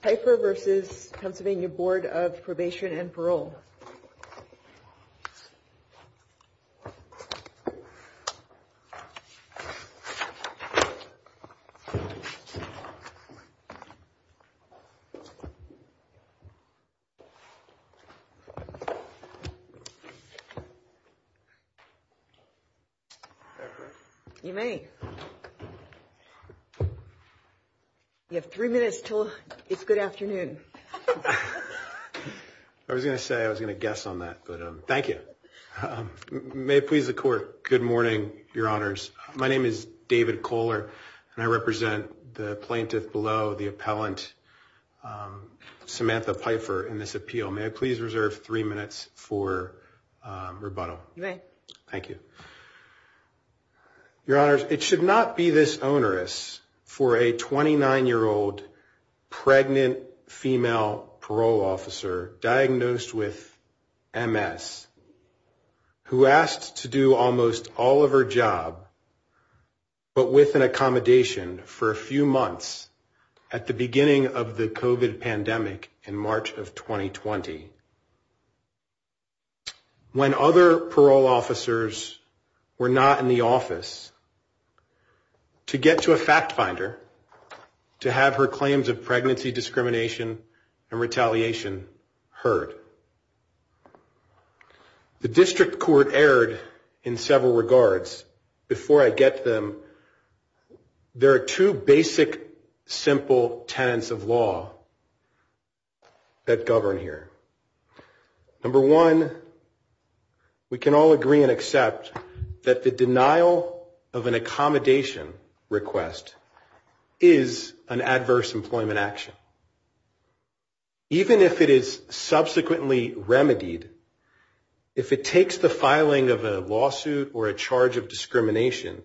Peifer v. Pennsylvania Board of Probation and Parole You may. You have three minutes until it's good afternoon. I was going to say I was going to guess on that, but thank you. May it please the court. Good morning, your honors. My name is David Kohler, and I represent the plaintiff below the appellant Samantha Peifer in this appeal. May I please reserve three minutes for rebuttal? You may. Thank you. Your honors, it should not be this onerous for a 29-year-old pregnant female parole officer diagnosed with MS who asked to do almost all of her job, but with an accommodation for a few months at the beginning of the COVID pandemic in March of 2020. When other parole officers were not in the office to get to a fact finder to have her claims of pregnancy discrimination and retaliation heard. The district court erred in several regards. Before I get them, there are two basic, simple tenants of law that govern here. Number one, we can all agree and accept that the denial of an accommodation request is an adverse employment action. Even if it is subsequently remedied, if it takes the filing of a lawsuit or a charge of discrimination,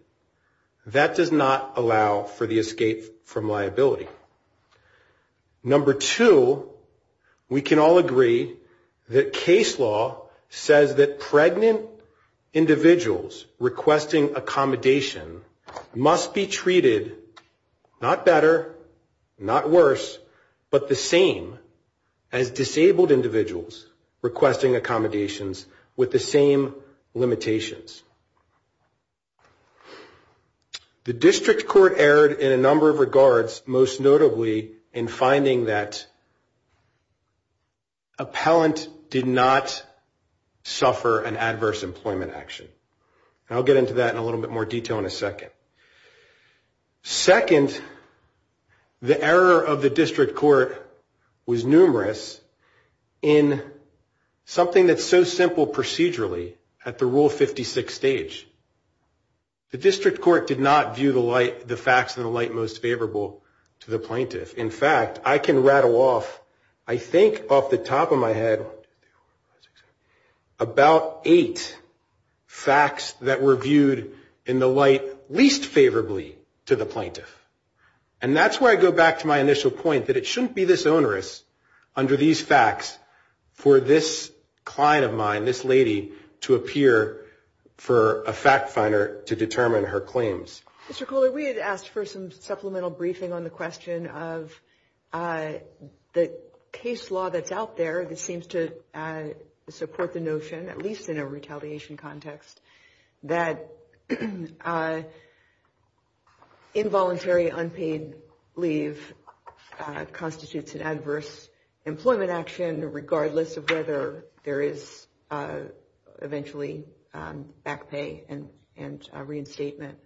that does not allow for the escape from liability. Number two, we can all agree that case law says that pregnant individuals requesting accommodation must be treated not better, not worse, but the same as disabled individuals requesting accommodations with the same limitations. The district court erred in a number of regards, most notably in finding that appellant did not suffer an adverse employment action. I'll get into that in a little bit more detail in a second. Second, the error of the district court was numerous in something that's so simple procedurally at the Rule 56 stage. The district court did not view the facts in the light most favorable to the plaintiff. In fact, I can rattle off, I think off the top of my head, about eight facts that were viewed in the light least favorably to the plaintiff. And that's where I go back to my initial point that it shouldn't be this onerous under these facts for this client of mine, this lady, to appear for a fact finder to determine her claims. Mr. Kohler, we had asked for some supplemental briefing on the question of the case law that's out there that seems to support the notion, at least in a retaliation context, that involuntary unpaid leave constitutes an adverse employment action, regardless of whether there is eventually back pay and reinstatement.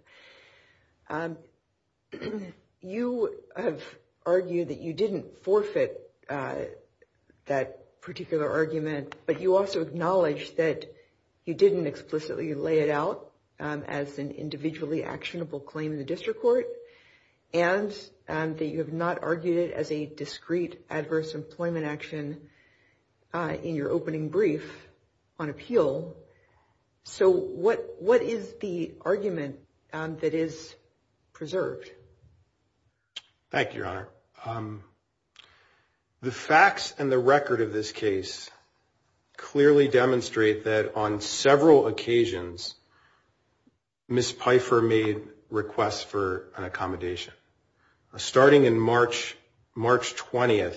You have argued that you didn't forfeit that particular argument, but you also acknowledge that you didn't explicitly lay it out as an individually actionable claim in the district court, and that you have not argued it as a discrete adverse employment action in your opening brief on appeal. So what is the argument that is preserved? Thank you, Your Honor. The facts and the record of this case clearly demonstrate that on several occasions, Ms. Pfeiffer made requests for an accommodation, starting in March 20th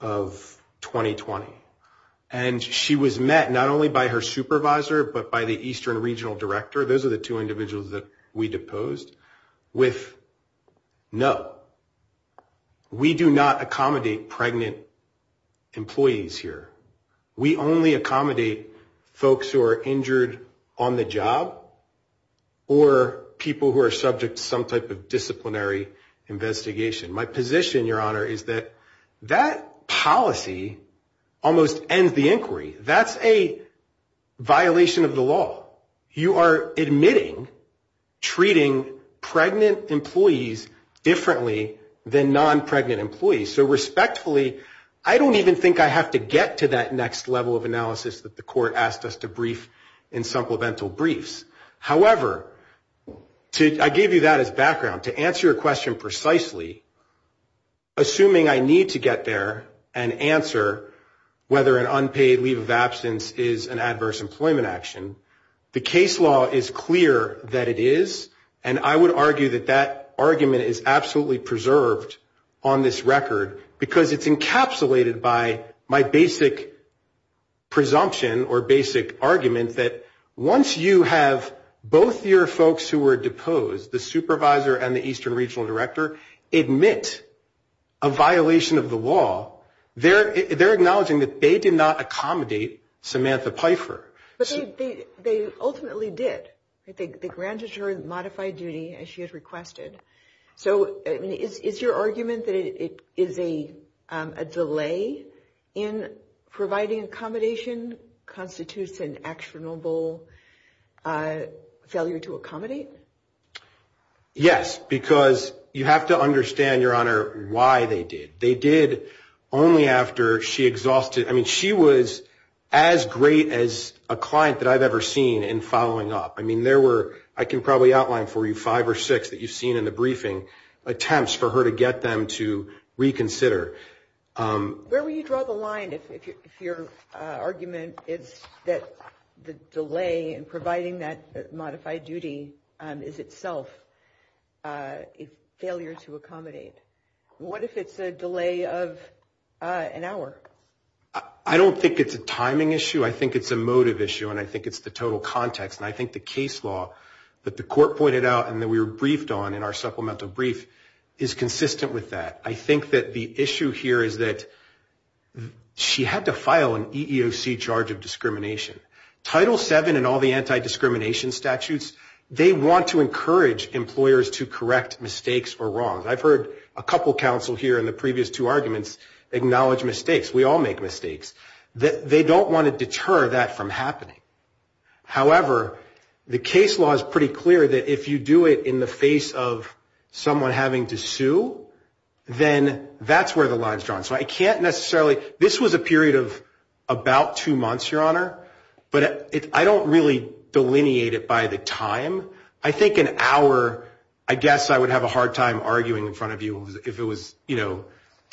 of 2020. And she was met not only by her supervisor, but by the Eastern Regional Director. Those are the two individuals that we deposed with, no, we do not accommodate pregnant employees here. We only accommodate folks who are injured on the job or people who are subject to some type of disciplinary investigation. My position, Your Honor, is that that policy almost ends the inquiry. That's a violation of the law. You are admitting treating pregnant employees differently than non-pregnant employees. So respectfully, I don't even think I have to get to that next level of analysis that the court asked us to brief in supplemental briefs. However, I gave you that as background. To answer your question precisely, assuming I need to get there and answer whether an unpaid leave of absence is an adverse employment action, the case law is clear that it is, and I would argue that that argument is absolutely preserved on this record, because it's encapsulated by my basic presumption or basic argument that once you have both your folks who were deposed, the supervisor and the Eastern Regional Director, admit a violation of the law, they're acknowledging that they did not accommodate Samantha Pfeiffer. But they ultimately did. They granted her modified duty as she had requested. So is your argument that it is a delay in providing accommodation constitutes an actionable failure to accommodate? Yes, because you have to understand, Your Honor, why they did. They did only after she exhausted ‑‑ I mean, she was as great as a client that I've ever seen in following up. I mean, there were, I can probably outline for you five or six that you've seen in the briefing, attempts for her to get them to reconsider. Where would you draw the line if your argument is that the delay in providing that modified duty is itself a failure to accommodate? What if it's a delay of an hour? I don't think it's a timing issue. I think it's a motive issue, and I think it's the total context, and I think the case law that the court pointed out and that we were briefed on in our supplemental brief is consistent with that. I think that the issue here is that she had to file an EEOC charge of discrimination. Title VII and all the anti‑discrimination statutes, they want to encourage employers to correct mistakes or wrongs. I've heard a couple counsel here in the previous two arguments acknowledge mistakes. We all make mistakes. They don't want to deter that from happening. However, the case law is pretty clear that if you do it in the face of someone having to sue, then that's where the line is drawn. So I can't necessarily ‑‑ this was a period of about two months, Your Honor, but I don't really delineate it by the time. I think an hour, I guess I would have a hard time arguing in front of you if it was, you know,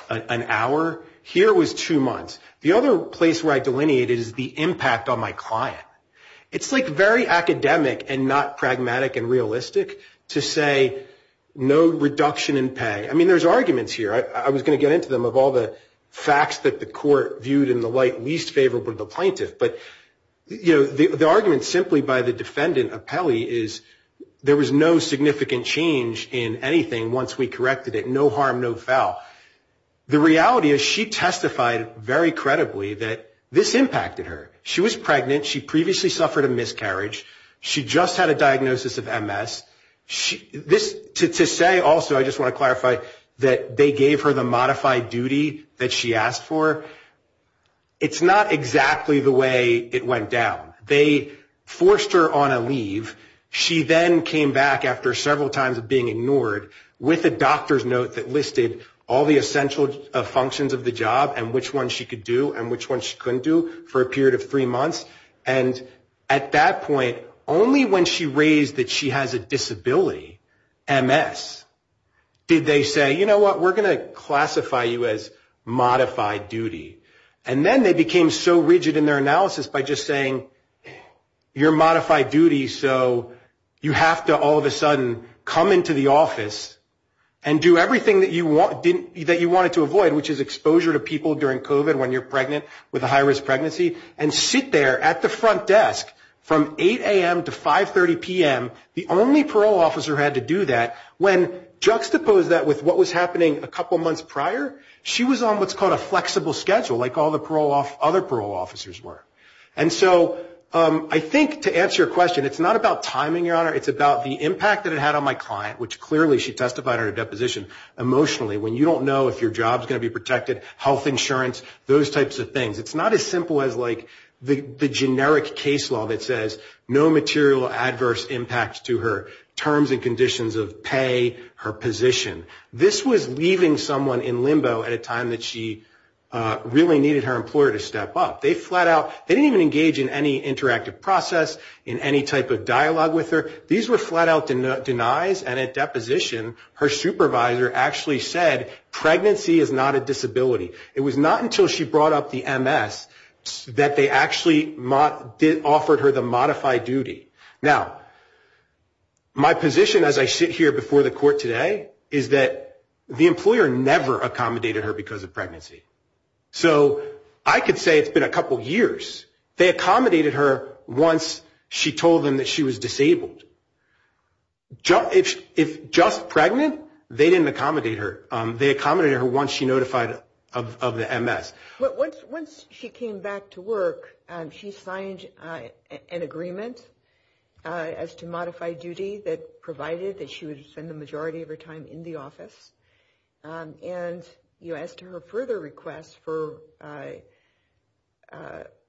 an hour. Here it was two months. The other place where I delineate it is the impact on my client. It's, like, very academic and not pragmatic and realistic to say no reduction in pay. I mean, there's arguments here. I was going to get into them of all the facts that the court viewed in the light least favorable to the plaintiff, but, you know, the argument simply by the defendant, Apelli, is there was no significant change in anything once we corrected it. No harm, no foul. The reality is she testified very credibly that this impacted her. She was pregnant. She previously suffered a miscarriage. She just had a diagnosis of MS. To say also, I just want to clarify, that they gave her the modified duty that she asked for, it's not exactly the way it went down. They forced her on a leave. She then came back after several times of being ignored with a doctor's note that listed all the essential functions of the job and which ones she could do and which ones she couldn't do for a period of three months. And at that point, only when she raised that she has a disability, MS, did they say, you know what, we're going to classify you as modified duty. And then they became so rigid in their analysis by just saying, you're modified duty, so you have to all of a sudden come into the office and do everything that you wanted to avoid, which is exposure to people during COVID when you're pregnant with a high-risk pregnancy, and sit there at the front desk from 8 a.m. to 5.30 p.m. The only parole officer who had to do that, when juxtaposed that with what was happening a couple months prior, she was on what's called a flexible schedule, like all the other parole officers were. And so I think to answer your question, it's not about timing, Your Honor, it's about the impact that it had on my client, which clearly she testified under deposition emotionally, when you don't know if your job's going to be protected, health insurance, those types of things. It's not as simple as like the generic case law that says no material adverse impact to her terms and conditions of pay, her position. This was leaving someone in limbo at a time that she really needed her employer to step up. They flat out, they didn't even engage in any interactive process, in any type of dialogue with her. These were flat out denies, and at deposition, her supervisor actually said pregnancy is not a disability. It was not until she brought up the MS that they actually offered her the modified duty. Now, my position as I sit here before the court today is that the employer never accommodated her because of pregnancy. So I could say it's been a couple years. They accommodated her once she told them that she was disabled. If just pregnant, they didn't accommodate her. They accommodated her once she notified of the MS. Once she came back to work, she signed an agreement as to modified duty that provided that she would spend the majority of her time in the office. And as to her further request for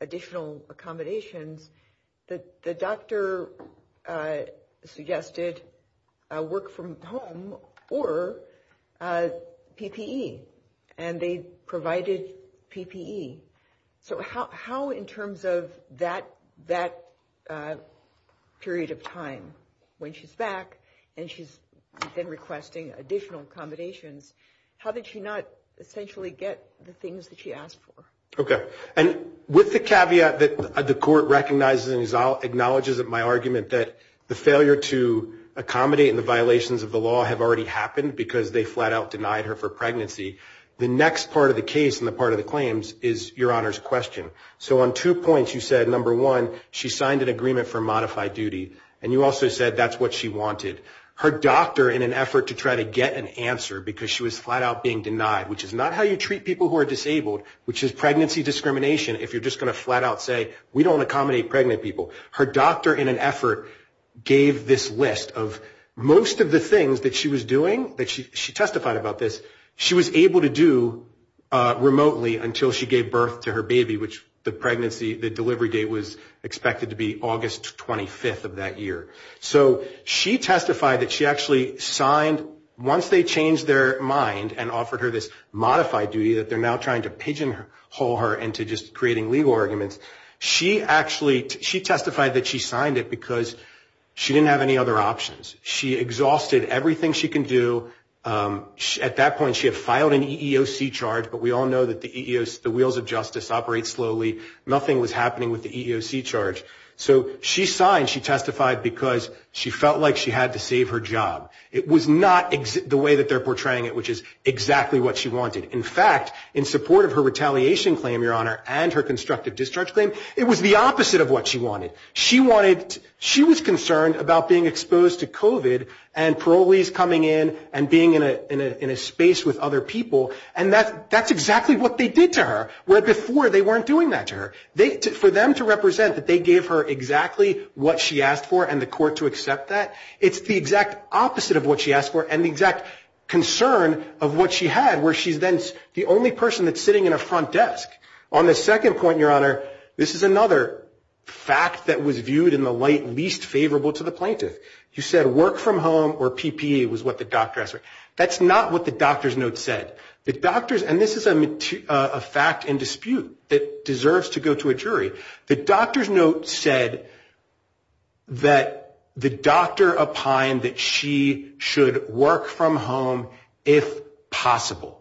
additional accommodations, the doctor suggested work from home or PPE. And they provided PPE. So how in terms of that period of time when she's back and she's been requesting additional accommodations, how did she not essentially get the things that she asked for? Okay. And with the caveat that the court recognizes and acknowledges in my argument that the failure to accommodate and the violations of the law have already happened because they flat out denied her for pregnancy, the next part of the case and the part of the claims is Your Honor's question. So on two points, you said, number one, she signed an agreement for modified duty. And you also said that's what she wanted. Her doctor, in an effort to try to get an answer because she was flat out being denied, which is not how you treat people who are disabled, which is pregnancy discrimination, if you're just going to flat out say we don't accommodate pregnant people. Her doctor, in an effort, gave this list of most of the things that she was doing, that she testified about this, she was able to do remotely until she gave birth to her baby, which the pregnancy, the delivery date was expected to be August 25th of that year. So she testified that she actually signed, once they changed their mind and offered her this modified duty that they're now trying to pigeonhole her into just creating legal arguments, she testified that she signed it because she didn't have any other options. She exhausted everything she can do. At that point she had filed an EEOC charge, but we all know that the wheels of justice operate slowly. Nothing was happening with the EEOC charge. So she signed, she testified, because she felt like she had to save her job. It was not the way that they're portraying it, which is exactly what she wanted. In fact, in support of her retaliation claim, Your Honor, and her constructive discharge claim, it was the opposite of what she wanted. She wanted, she was concerned about being exposed to COVID and parolees coming in and being in a space with other people. And that's exactly what they did to her, where before they weren't doing that to her. For them to represent that they gave her exactly what she asked for and the court to accept that, it's the exact opposite of what she asked for and the exact concern of what she had, where she's then the only person that's sitting in a front desk. On the second point, Your Honor, this is another fact that was viewed in the light least favorable to the plaintiff. You said work from home or PPE was what the doctor asked for. That's not what the doctor's note said. The doctor's, and this is a fact and dispute that deserves to go to a jury. The doctor's note said that the doctor opined that she should work from home if possible,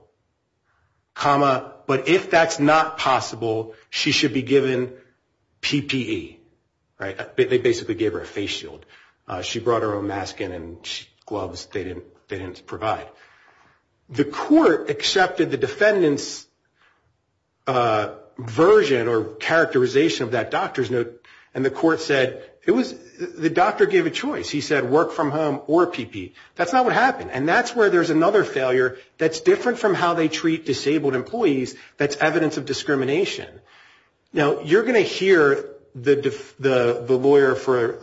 comma, but if that's not possible, she should be given PPE, right? They basically gave her a face shield. She brought her own mask and gloves they didn't provide. The court accepted the defendant's version or characterization of that doctor's note and the court said the doctor gave a choice. He said work from home or PPE. That's not what happened. And that's where there's another failure that's different from how they treat disabled employees that's evidence of discrimination. Now, you're going to hear the lawyer for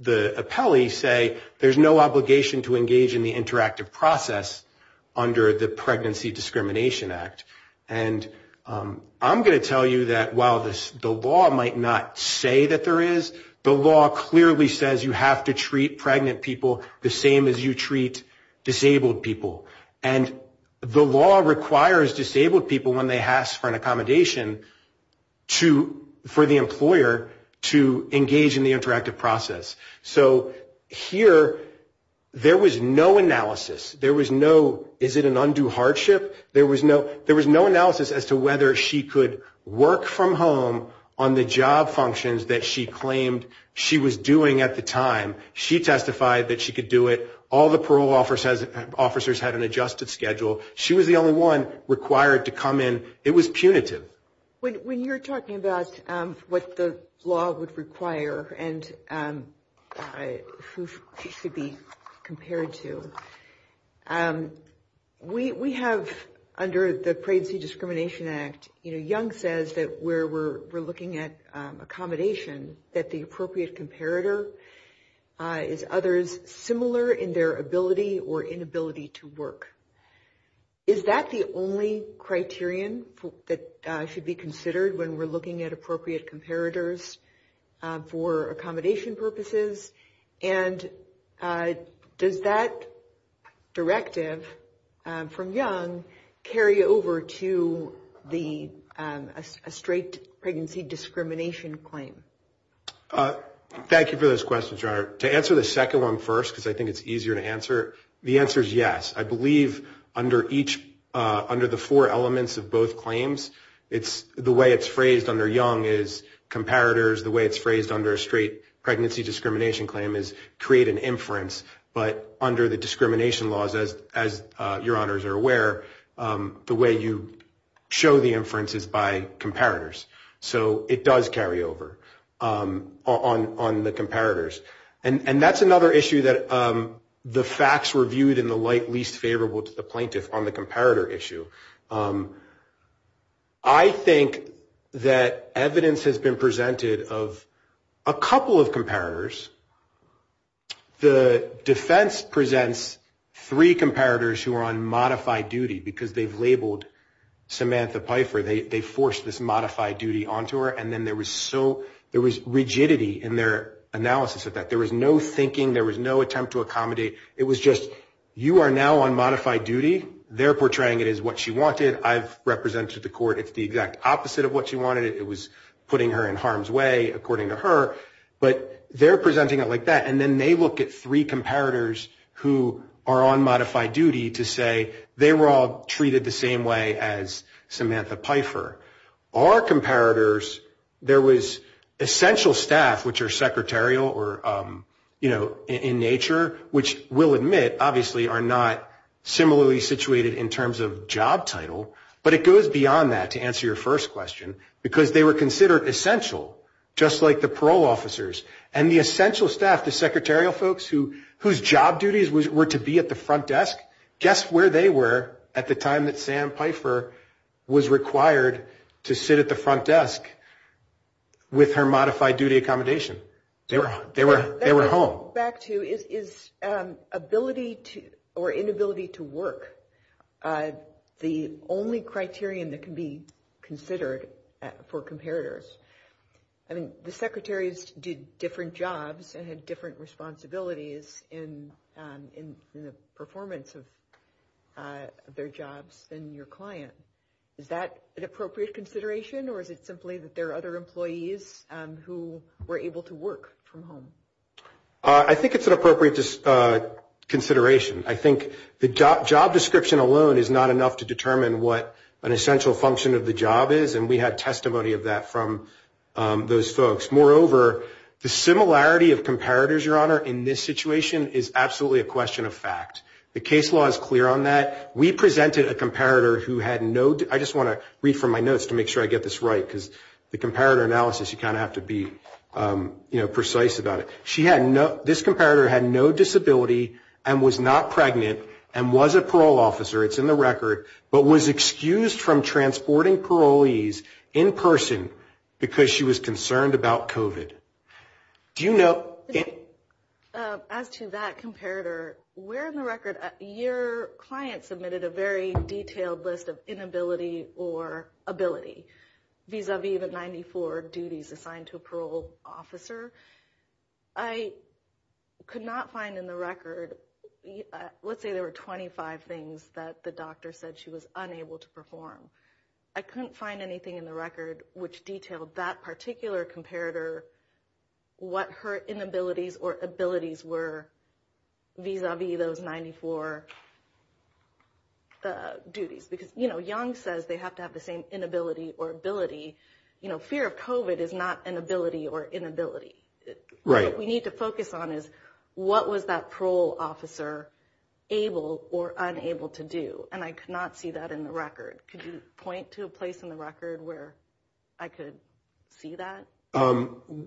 the appellee say there's no obligation to engage in the interactive process under the Pregnancy Discrimination Act. And I'm going to tell you that while the law might not say that there is, the law clearly says you have to treat pregnant people the same as you treat disabled people. And the law requires disabled people when they ask for an accommodation for the employer to engage in the interactive process. So here there was no analysis. There was no, is it an undue hardship? There was no analysis as to whether she could work from home on the job functions that she claimed she was doing at the time. She testified that she could do it. All the parole officers had an adjusted schedule. She was the only one required to come in. It was punitive. When you're talking about what the law would require and who she should be compared to, we have under the Pregnancy Discrimination Act, Young says that where we're looking at accommodation, that the appropriate comparator is others similar in their ability or inability to work. Is that the only criterion that should be considered when we're looking at appropriate comparators for accommodation purposes? And does that directive from Young carry over to a straight pregnancy discrimination claim? Thank you for those questions, Rhonda. To answer the second one first, because I think it's easier to answer, the answer is yes. I believe under the four elements of both claims, the way it's phrased under Young is comparators. The way it's phrased under a straight pregnancy discrimination claim is create an inference. But under the discrimination laws, as your honors are aware, the way you show the inference is by comparators. So it does carry over on the comparators. And that's another issue that the facts were viewed in the light least favorable to the plaintiff on the comparator issue. I think that evidence has been presented of a couple of comparators. The defense presents three comparators who are on modified duty because they've labeled Samantha Pfeiffer. They forced this modified duty onto her. And then there was so there was rigidity in their analysis of that. There was no thinking. There was no attempt to accommodate. It was just you are now on modified duty. They're portraying it as what she wanted. I've represented the court. It's the exact opposite of what she wanted. It was putting her in harm's way, according to her. But they're presenting it like that. And then they look at three comparators who are on modified duty to say they were all treated the same way as Samantha Pfeiffer. Our comparators, there was essential staff, which are secretarial or, you know, in nature, which we'll admit obviously are not similarly situated in terms of job title. But it goes beyond that, to answer your first question, because they were considered essential, just like the parole officers. And the essential staff, the secretarial folks whose job duties were to be at the front desk, guess where they were at the time that Sam Pfeiffer was required to sit at the front desk with her modified duty accommodation? They were home. To go back to, is ability or inability to work the only criterion that can be considered for comparators? I mean, the secretaries did different jobs and had different responsibilities in the performance of their jobs than your client. Is that an appropriate consideration, or is it simply that there are other employees who were able to work from home? I think it's an appropriate consideration. I think the job description alone is not enough to determine what an essential function of the job is, and we had testimony of that from those folks. Moreover, the similarity of comparators, Your Honor, in this situation is absolutely a question of fact. The case law is clear on that. We presented a comparator who had no, I just want to read from my notes to make sure I get this right, because the comparator analysis, you kind of have to be, you know, precise about it. She had no, this comparator had no disability and was not pregnant and was a parole officer, it's in the record, but was excused from transporting parolees in person because she was concerned about COVID. Do you know? As to that comparator, we're in the record. Your client submitted a very detailed list of inability or ability vis-a-vis the 94 duties assigned to a parole officer. I could not find in the record, let's say there were 25 things that the doctor said she was unable to perform. I couldn't find anything in the record which detailed that particular comparator, what her inabilities or abilities were vis-a-vis those 94 duties. Because, you know, Young says they have to have the same inability or ability. You know, fear of COVID is not an ability or inability. Right. What we need to focus on is what was that parole officer able or unable to do, and I could not see that in the record. Could you point to a place in the record where I could see that?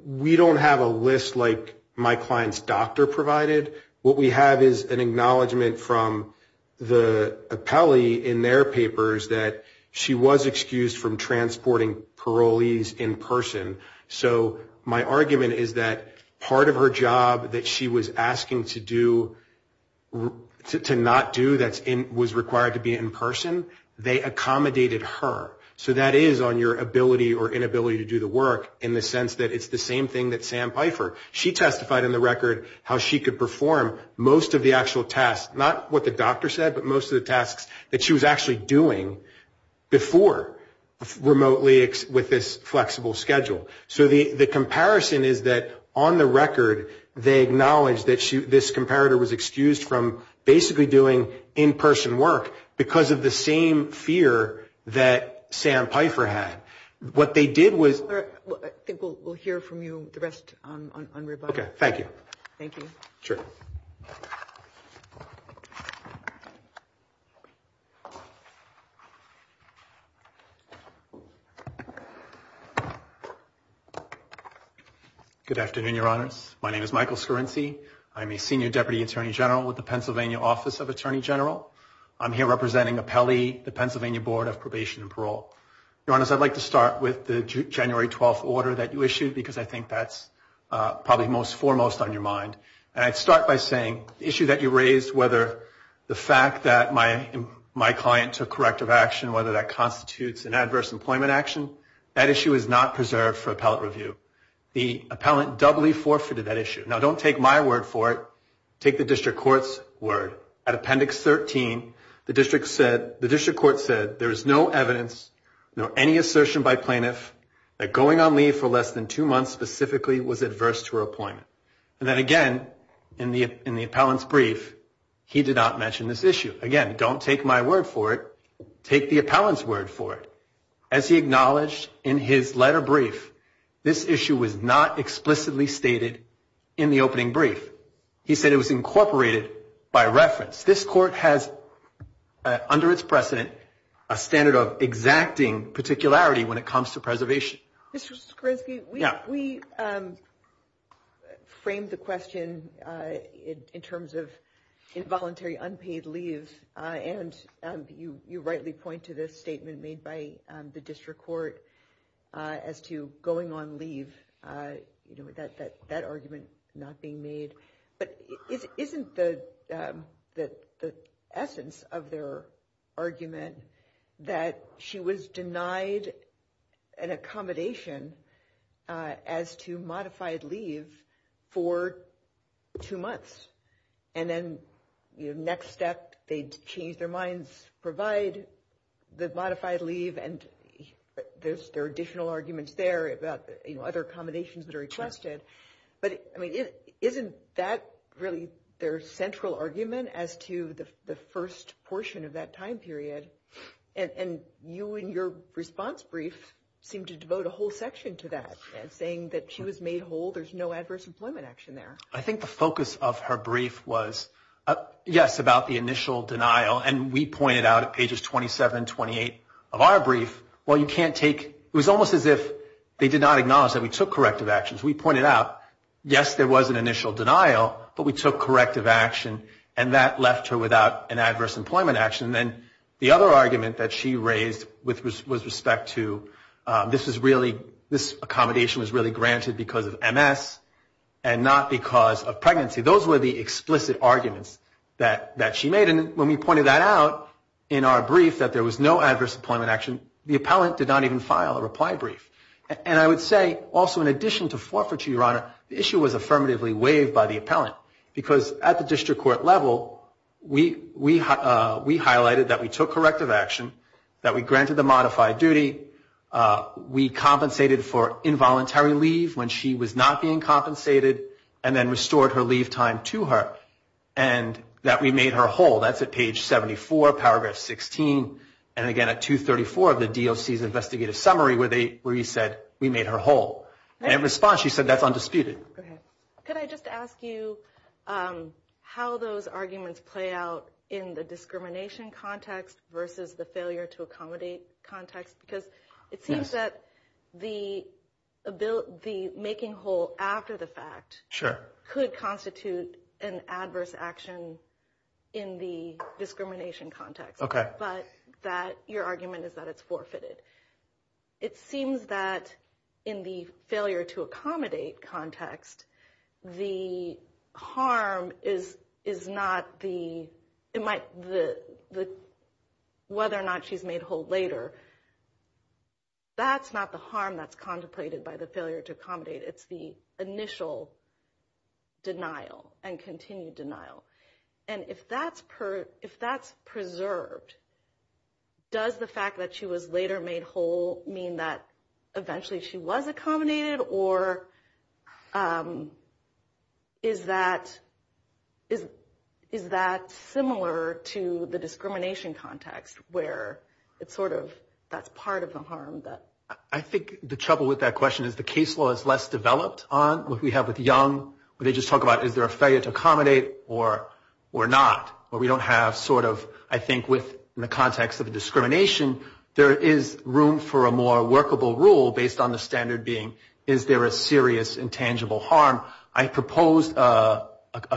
We don't have a list like my client's doctor provided. What we have is an acknowledgment from the appellee in their papers that she was excused from transporting parolees in person. So my argument is that part of her job that she was asking to do, to not do that was required to be in person, they accommodated her. So that is on your ability or inability to do the work in the sense that it's the same thing that Sam Pfeiffer. She testified in the record how she could perform most of the actual tasks, not what the doctor said, but most of the tasks that she was actually doing before remotely with this flexible schedule. So the comparison is that on the record, they acknowledge that this comparator was excused from basically doing in-person work because of the same fear that Sam Pfeiffer had. What they did was. I think we'll hear from you the rest on rebuttal. Okay, thank you. Thank you. Sure. Good afternoon, Your Honors. My name is Michael Scarrinci. I'm a senior deputy attorney general with the Pennsylvania Office of Attorney General. I'm here representing appellee, the Pennsylvania Board of Probation and Parole. Your Honors, I'd like to start with the January 12th order that you issued because I think that's probably most foremost on your mind. And I'd start by saying the issue that you raised, whether the fact that my client took corrective action, whether that constitutes an adverse employment action, that issue is not preserved for appellate review. The appellant doubly forfeited that issue. Now, don't take my word for it. Take the district court's word. At Appendix 13, the district court said there is no evidence, no any assertion by plaintiff, that going on leave for less than two months specifically was adverse to her appointment. And then again, in the appellant's brief, he did not mention this issue. Again, don't take my word for it. Take the appellant's word for it. As he acknowledged in his letter brief, this issue was not explicitly stated in the opening brief. He said it was incorporated by reference. This court has, under its precedent, a standard of exacting particularity when it comes to preservation. Mr. Skrzynski, we framed the question in terms of involuntary unpaid leave, and you rightly point to this statement made by the district court as to going on leave, that argument not being made. But isn't the essence of their argument that she was denied an accommodation as to modified leave for two months? And then next step, they change their minds, provide the modified leave, and there are additional arguments there about other accommodations that are requested. But, I mean, isn't that really their central argument as to the first portion of that time period? And you in your response brief seem to devote a whole section to that, saying that she was made whole, there's no adverse employment action there. I think the focus of her brief was, yes, about the initial denial, and we pointed out at pages 27 and 28 of our brief, well, you can't take, it was almost as if they did not acknowledge that we took corrective actions. We pointed out, yes, there was an initial denial, but we took corrective action, and that left her without an adverse employment action. And then the other argument that she raised was with respect to this accommodation was really granted because of MS and not because of pregnancy. Those were the explicit arguments that she made. But when we pointed that out in our brief that there was no adverse employment action, the appellant did not even file a reply brief. And I would say also in addition to forfeiture, Your Honor, the issue was affirmatively waived by the appellant because at the district court level, we highlighted that we took corrective action, that we granted the modified duty, we compensated for involuntary leave when she was not being compensated, and then restored her leave time to her, and that we made her whole. That's at page 74, paragraph 16, and again at 234 of the DOC's investigative summary where you said we made her whole. And in response, she said that's undisputed. Can I just ask you how those arguments play out in the discrimination context versus the failure to accommodate context? Because it seems that the making whole after the fact could constitute an adverse action in the discrimination context. But your argument is that it's forfeited. It seems that in the failure to accommodate context, the harm is not whether or not she's made whole later. That's not the harm that's contemplated by the failure to accommodate. It's the initial denial and continued denial. And if that's preserved, does the fact that she was later made whole mean that eventually she was accommodated, or is that similar to the discrimination context where it's sort of that's part of the harm? I think the trouble with that question is the case law is less developed on what we have with young. When they just talk about is there a failure to accommodate or not, where we don't have sort of, I think, within the context of discrimination, there is room for a more workable rule based on the standard being is there a serious intangible harm. I proposed a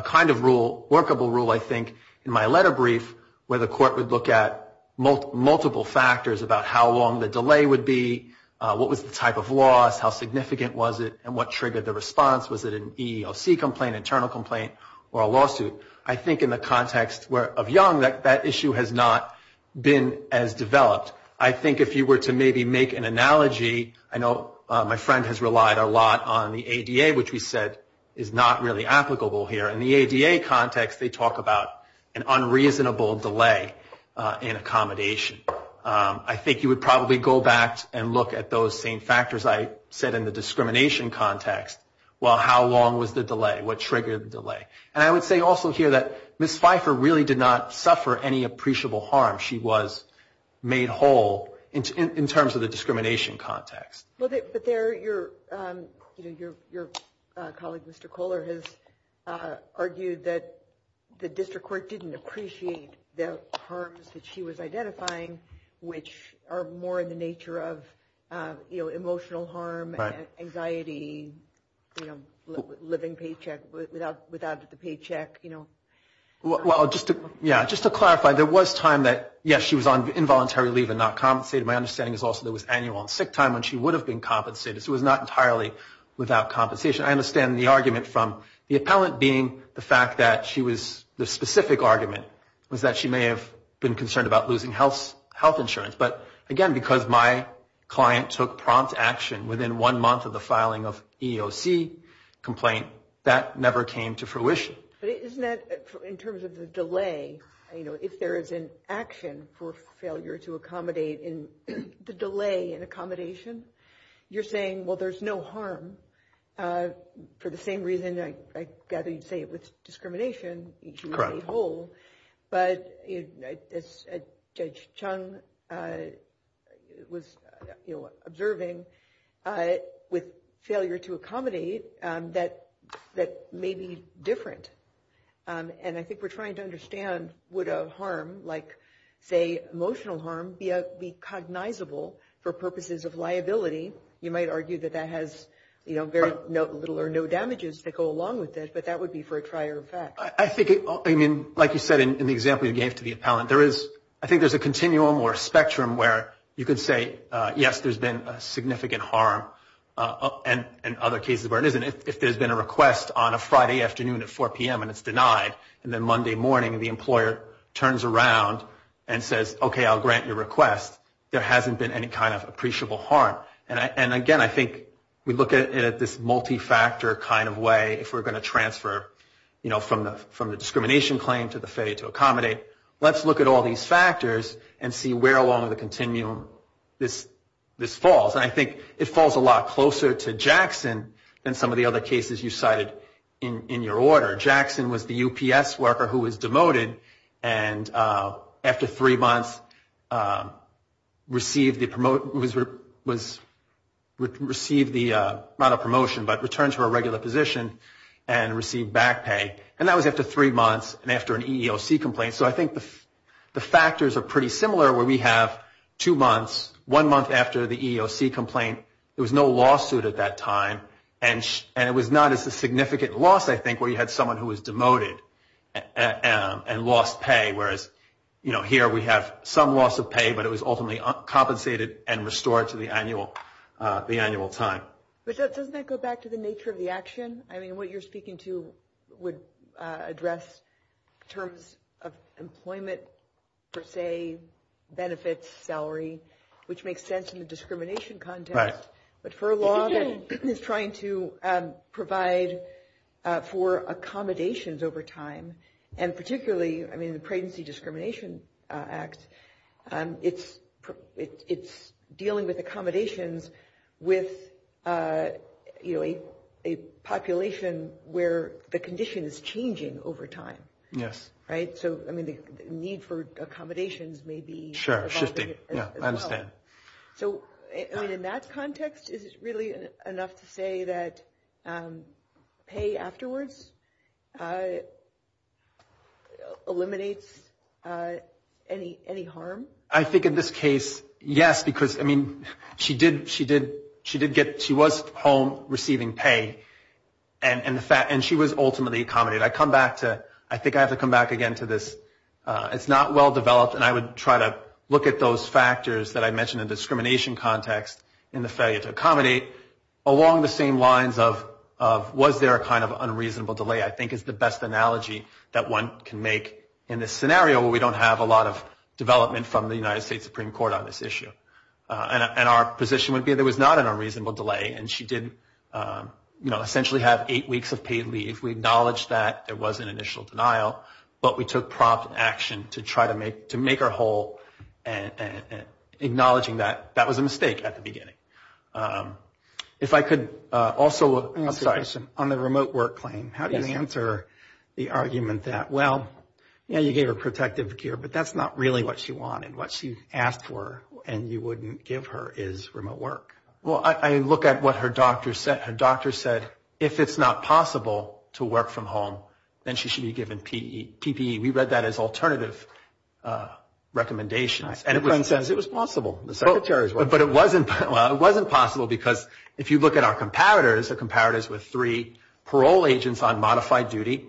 kind of rule, workable rule, I think, in my letter brief where the court would look at multiple factors about how long the delay would be, what was the type of loss, how significant was it, and what triggered the response, was it an EEOC complaint, internal complaint, or a lawsuit. I think in the context of young, that issue has not been as developed. I think if you were to maybe make an analogy, I know my friend has relied a lot on the ADA, which we said is not really applicable here. In the ADA context, they talk about an unreasonable delay in accommodation. I think you would probably go back and look at those same factors I said in the discrimination context. Well, how long was the delay? What triggered the delay? And I would say also here that Ms. Pfeiffer really did not suffer any appreciable harm. She was made whole in terms of the discrimination context. But your colleague, Mr. Kohler, has argued that the district court didn't appreciate the harms that she was identifying, which are more in the nature of emotional harm, anxiety, living paycheck without the paycheck. Well, just to clarify, there was time that, yes, she was on involuntary leave and not compensated. My understanding is also there was annual and sick time when she would have been compensated. So it was not entirely without compensation. I understand the argument from the appellant being the fact that she was, the specific argument was that she may have been concerned about losing health insurance. But, again, because my client took prompt action within one month of the filing of EEOC complaint, that never came to fruition. But isn't that, in terms of the delay, you know, if there is an action for failure to accommodate in the delay in accommodation, you're saying, well, there's no harm for the same reason, I gather you'd say, with discrimination, she was made whole. But as Judge Chung was observing, with failure to accommodate, that may be different. And I think we're trying to understand, would a harm like, say, emotional harm be cognizable for purposes of liability? You might argue that that has, you know, very little or no damages that go along with it, but that would be for a trier of facts. I think, I mean, like you said in the example you gave to the appellant, there is, I think there's a continuum or a spectrum where you could say, yes, there's been a significant harm, and other cases where it isn't. If there's been a request on a Friday afternoon at 4 p.m. and it's denied, and then Monday morning the employer turns around and says, okay, I'll grant your request, there hasn't been any kind of appreciable harm. And again, I think we look at it at this multi-factor kind of way, if we're going to transfer, you know, from the discrimination claim to the failure to accommodate. Let's look at all these factors and see where along the continuum this falls. And I think it falls a lot closer to Jackson than some of the other cases you cited in your order. Jackson was the UPS worker who was demoted and after three months received the, not a promotion, but returned to her regular position and received back pay. And that was after three months and after an EEOC complaint. So I think the factors are pretty similar where we have two months, one month after the EEOC complaint, there was no lawsuit at that time, and it was not as a significant loss, I think, where you had someone who was demoted and lost pay, whereas, you know, here we have some loss of pay, but it was ultimately compensated and restored to the annual time. But doesn't that go back to the nature of the action? I mean, what you're speaking to would address terms of employment, per se, benefits, salary, which makes sense in the discrimination context. But for a law that is trying to provide for accommodations over time, and particularly, I mean, the Pregnancy Discrimination Act, it's dealing with accommodations with, you know, a population where the condition is changing over time. Yes. Right? So, I mean, the need for accommodations may be evolving. Yeah, I understand. So, I mean, in that context, is it really enough to say that pay afterwards eliminates any harm? I think in this case, yes, because, I mean, she did get – she was home receiving pay, and she was ultimately accommodated. I come back to – I think I have to come back again to this. It's not well-developed, and I would try to look at those factors that I mentioned in the discrimination context and the failure to accommodate along the same lines of was there a kind of unreasonable delay, I think is the best analogy that one can make in this scenario where we don't have a lot of development from the United States Supreme Court on this issue. And our position would be there was not an unreasonable delay, and she did, you know, essentially have eight weeks of paid leave. If we acknowledge that there was an initial denial, but we took prompt action to try to make her whole and acknowledging that that was a mistake at the beginning. If I could also – I'm sorry. On the remote work claim, how do you answer the argument that, well, yeah, you gave her protective gear, but that's not really what she wanted. What she asked for and you wouldn't give her is remote work. Well, I look at what her doctor said. Her doctor said if it's not possible to work from home, then she should be given PPE. We read that as alternative recommendations. And everyone says it was possible. But it wasn't possible because if you look at our comparators, the comparators were three parole agents on modified duty.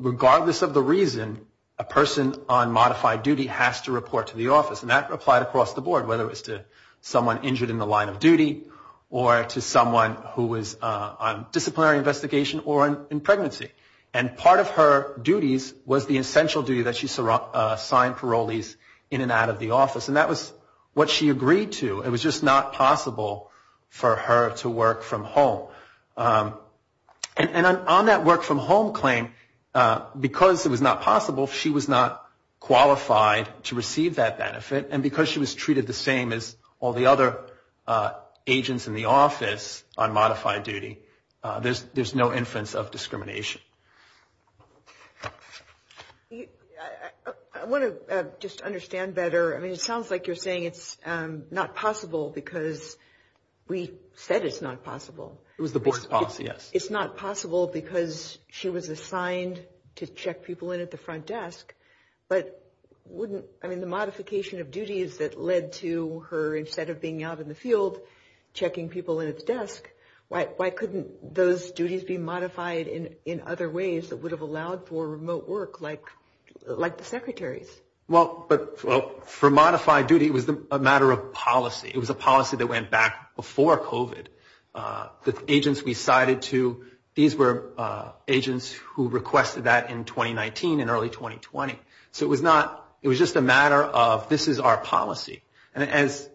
Regardless of the reason, a person on modified duty has to report to the office, and that applied across the board, whether it was to someone injured in the line of duty or to someone who was on disciplinary investigation or in pregnancy. And part of her duties was the essential duty that she signed parolees in and out of the office. And that was what she agreed to. It was just not possible for her to work from home. And on that work from home claim, because it was not possible, she was not qualified to receive that benefit. And because she was treated the same as all the other agents in the office on modified duty, there's no inference of discrimination. I want to just understand better. I mean, it sounds like you're saying it's not possible because we said it's not possible. It was the board's policy, yes. It's not possible because she was assigned to check people in at the front desk. I mean, the modification of duties that led to her, instead of being out in the field checking people in at the desk, why couldn't those duties be modified in other ways that would have allowed for remote work like the secretary's? Well, for modified duty, it was a matter of policy. It was a policy that went back before COVID. The agents we cited, these were agents who requested that in 2019 and early 2020. So it was just a matter of this is our policy. And as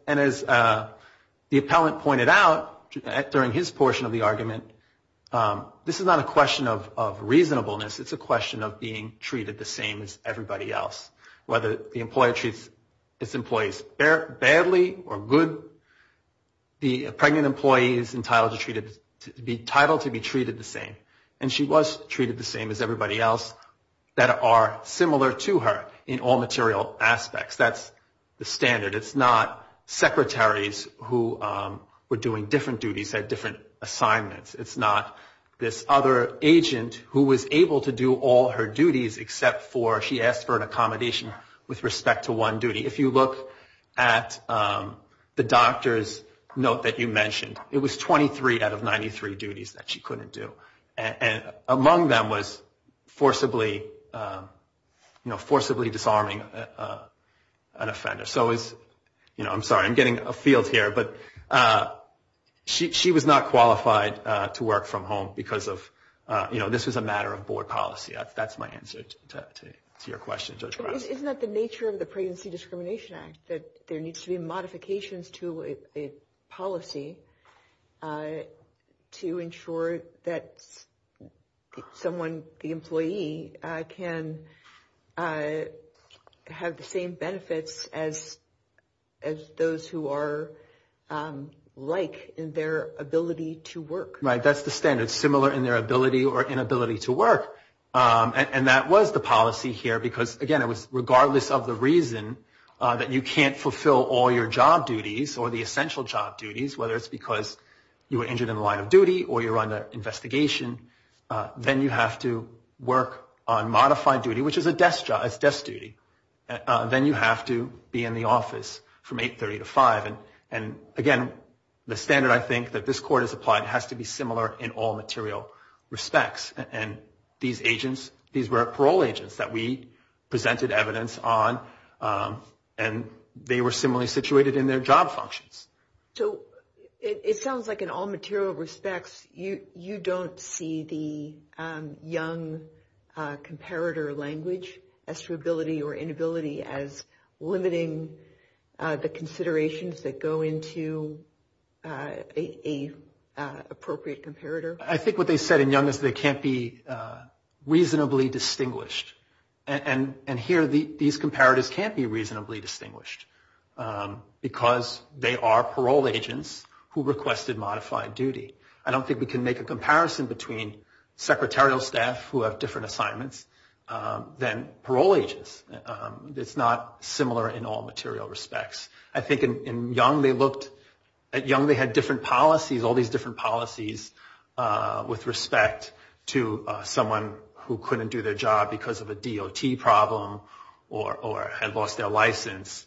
the appellant pointed out during his portion of the argument, this is not a question of reasonableness. It's a question of being treated the same as everybody else, whether the employer treats its employees badly or good. The pregnant employee is entitled to be treated the same. And she was treated the same as everybody else that are similar to her in all material aspects. That's the standard. It's not secretaries who were doing different duties, had different assignments. It's not this other agent who was able to do all her duties except for she asked for an accommodation with respect to one duty. If you look at the doctor's note that you mentioned, it was 23 out of 93 duties that she couldn't do. And among them was forcibly, you know, forcibly disarming an offender. So, you know, I'm sorry, I'm getting afield here. But she was not qualified to work from home because of, you know, this was a matter of board policy. That's my answer to your question. Isn't that the nature of the Pregnancy Discrimination Act, that there needs to be modifications to a policy to ensure that someone, the employee, can have the same benefits as those who are like in their ability to work? Right. That's the standard, similar in their ability or inability to work. And that was the policy here because, again, it was regardless of the reason that you can't fulfill all your job duties or the essential job duties, whether it's because you were injured in the line of duty or you're under investigation, then you have to work on modified duty, which is a desk job. It's desk duty. Then you have to be in the office from 8.30 to 5. And, again, the standard I think that this court has applied has to be similar in all material respects. And these agents, these were parole agents that we presented evidence on, and they were similarly situated in their job functions. So it sounds like in all material respects you don't see the young comparator language as your ability or inability as limiting the considerations that go into an appropriate comparator. I think what they said in young is they can't be reasonably distinguished. And here these comparators can't be reasonably distinguished because they are parole agents who requested modified duty. I don't think we can make a comparison between secretarial staff who have different assignments than parole agents. It's not similar in all material respects. I think in young they looked at young, they had different policies, all these different policies with respect to someone who couldn't do their job because of a DOT problem or had lost their license.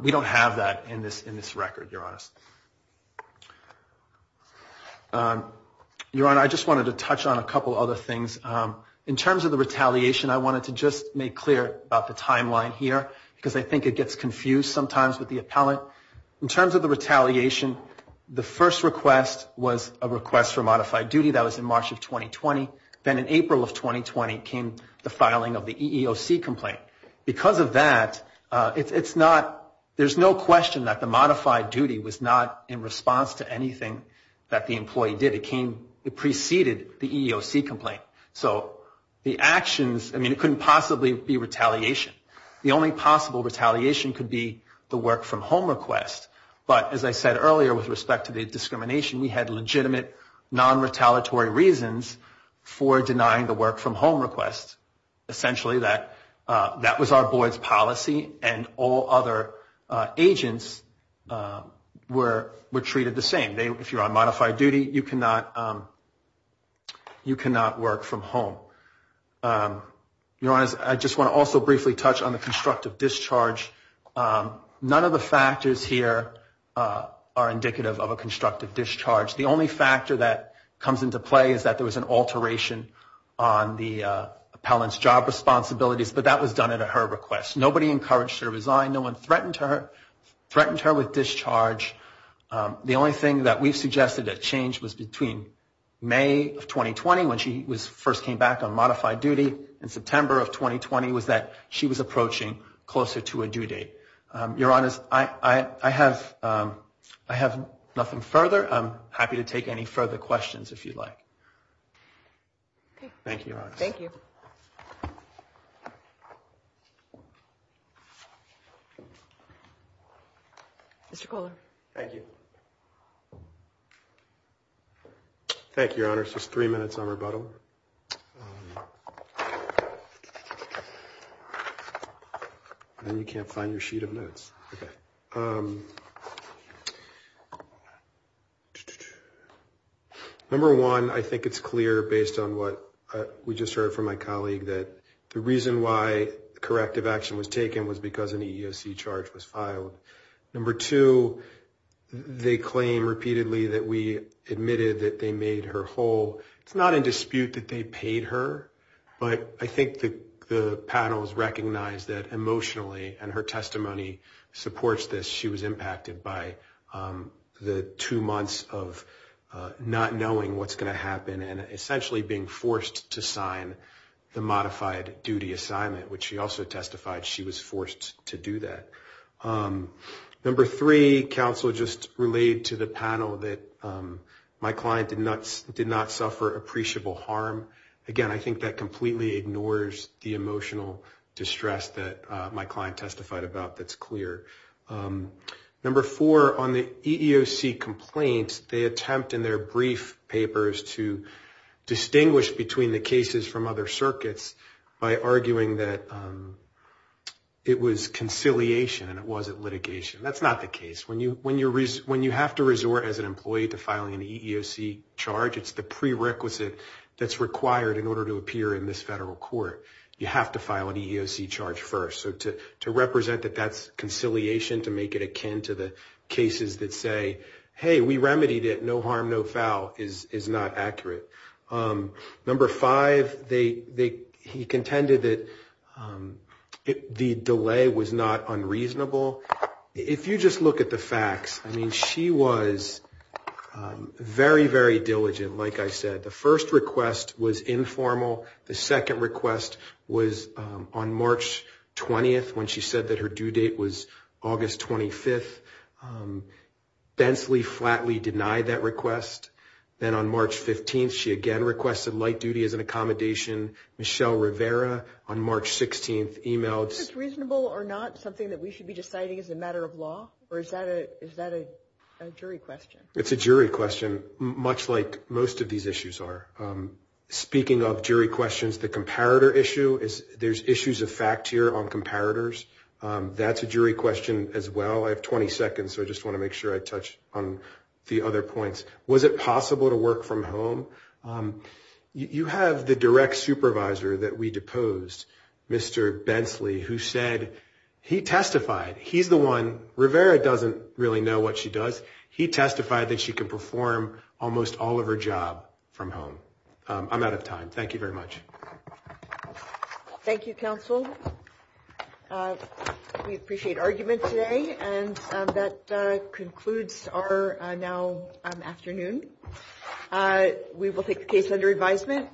We don't have that in this record, Your Honor. Your Honor, I just wanted to touch on a couple other things. In terms of the retaliation, I wanted to just make clear about the timeline here because I think it gets confused sometimes with the appellate. In terms of the retaliation, the first request was a request for modified duty. That was in March of 2020. Then in April of 2020 came the filing of the EEOC complaint. Because of that, there's no question that the modified duty was not in response to anything that the employee did. It preceded the EEOC complaint. So the actions, I mean, it couldn't possibly be retaliation. The only possible retaliation could be the work-from-home request. But as I said earlier with respect to the discrimination, we had legitimate non-retaliatory reasons for denying the work-from-home request. Essentially, that was our board's policy and all other agents were treated the same. If you're on modified duty, you cannot work from home. I just want to also briefly touch on the constructive discharge. None of the factors here are indicative of a constructive discharge. The only factor that comes into play is that there was an alteration on the appellant's job responsibilities, but that was done at her request. Nobody encouraged her to resign. No one threatened her with discharge. The only thing that we've suggested that changed was between May of 2020 when she first came back on modified duty and September of 2020 was that she was approaching closer to a due date. Your Honors, I have nothing further. I'm happy to take any further questions if you'd like. Thank you, Your Honors. Thank you. Thank you. Mr. Kohler. Thank you. Thank you, Your Honors. Just three minutes on rebuttal. You can't find your sheet of notes. Okay. Number one, I think it's clear based on what we just heard from my colleague that the reason why corrective action was taken was because an EEOC charge was filed. Number two, they claim repeatedly that we admitted that they made her whole. It's not in dispute that they paid her, but I think the panel has recognized that emotionally and her testimony supports this. She was impacted by the two months of not knowing what's going to happen and essentially being forced to sign the modified duty assignment, which she also testified she was forced to do that. Number three, counsel just relayed to the panel that my client did not suffer appreciable harm. Again, I think that completely ignores the emotional distress that my client testified about that's clear. Number four, on the EEOC complaints, they attempt in their brief papers to distinguish between the cases from other circuits by arguing that it was conciliation and it wasn't litigation. That's not the case. When you have to resort as an employee to filing an EEOC charge, it's the prerequisite that's required in order to appear in this federal court. You have to file an EEOC charge first. So to represent that that's conciliation, to make it akin to the cases that say, hey, we remedied it, no harm, no foul, is not accurate. Number five, he contended that the delay was not unreasonable. If you just look at the facts, I mean, she was very, very diligent, like I said. The first request was informal. The second request was on March 20th when she said that her due date was August 25th. Bensley flatly denied that request. Then on March 15th, she again requested light duty as an accommodation. Michelle Rivera on March 16th emailed. Is this reasonable or not something that we should be deciding as a matter of law? Or is that a jury question? It's a jury question, much like most of these issues are. Speaking of jury questions, the comparator issue, there's issues of fact here on comparators. That's a jury question as well. I have 20 seconds, so I just want to make sure I touch on the other points. Was it possible to work from home? You have the direct supervisor that we deposed, Mr. Bensley, who said he testified. He's the one. Rivera doesn't really know what she does. He testified that she can perform almost all of her job from home. I'm out of time. Thank you very much. Thank you, counsel. We appreciate argument today. That concludes our now afternoon. We will take the case under advisement.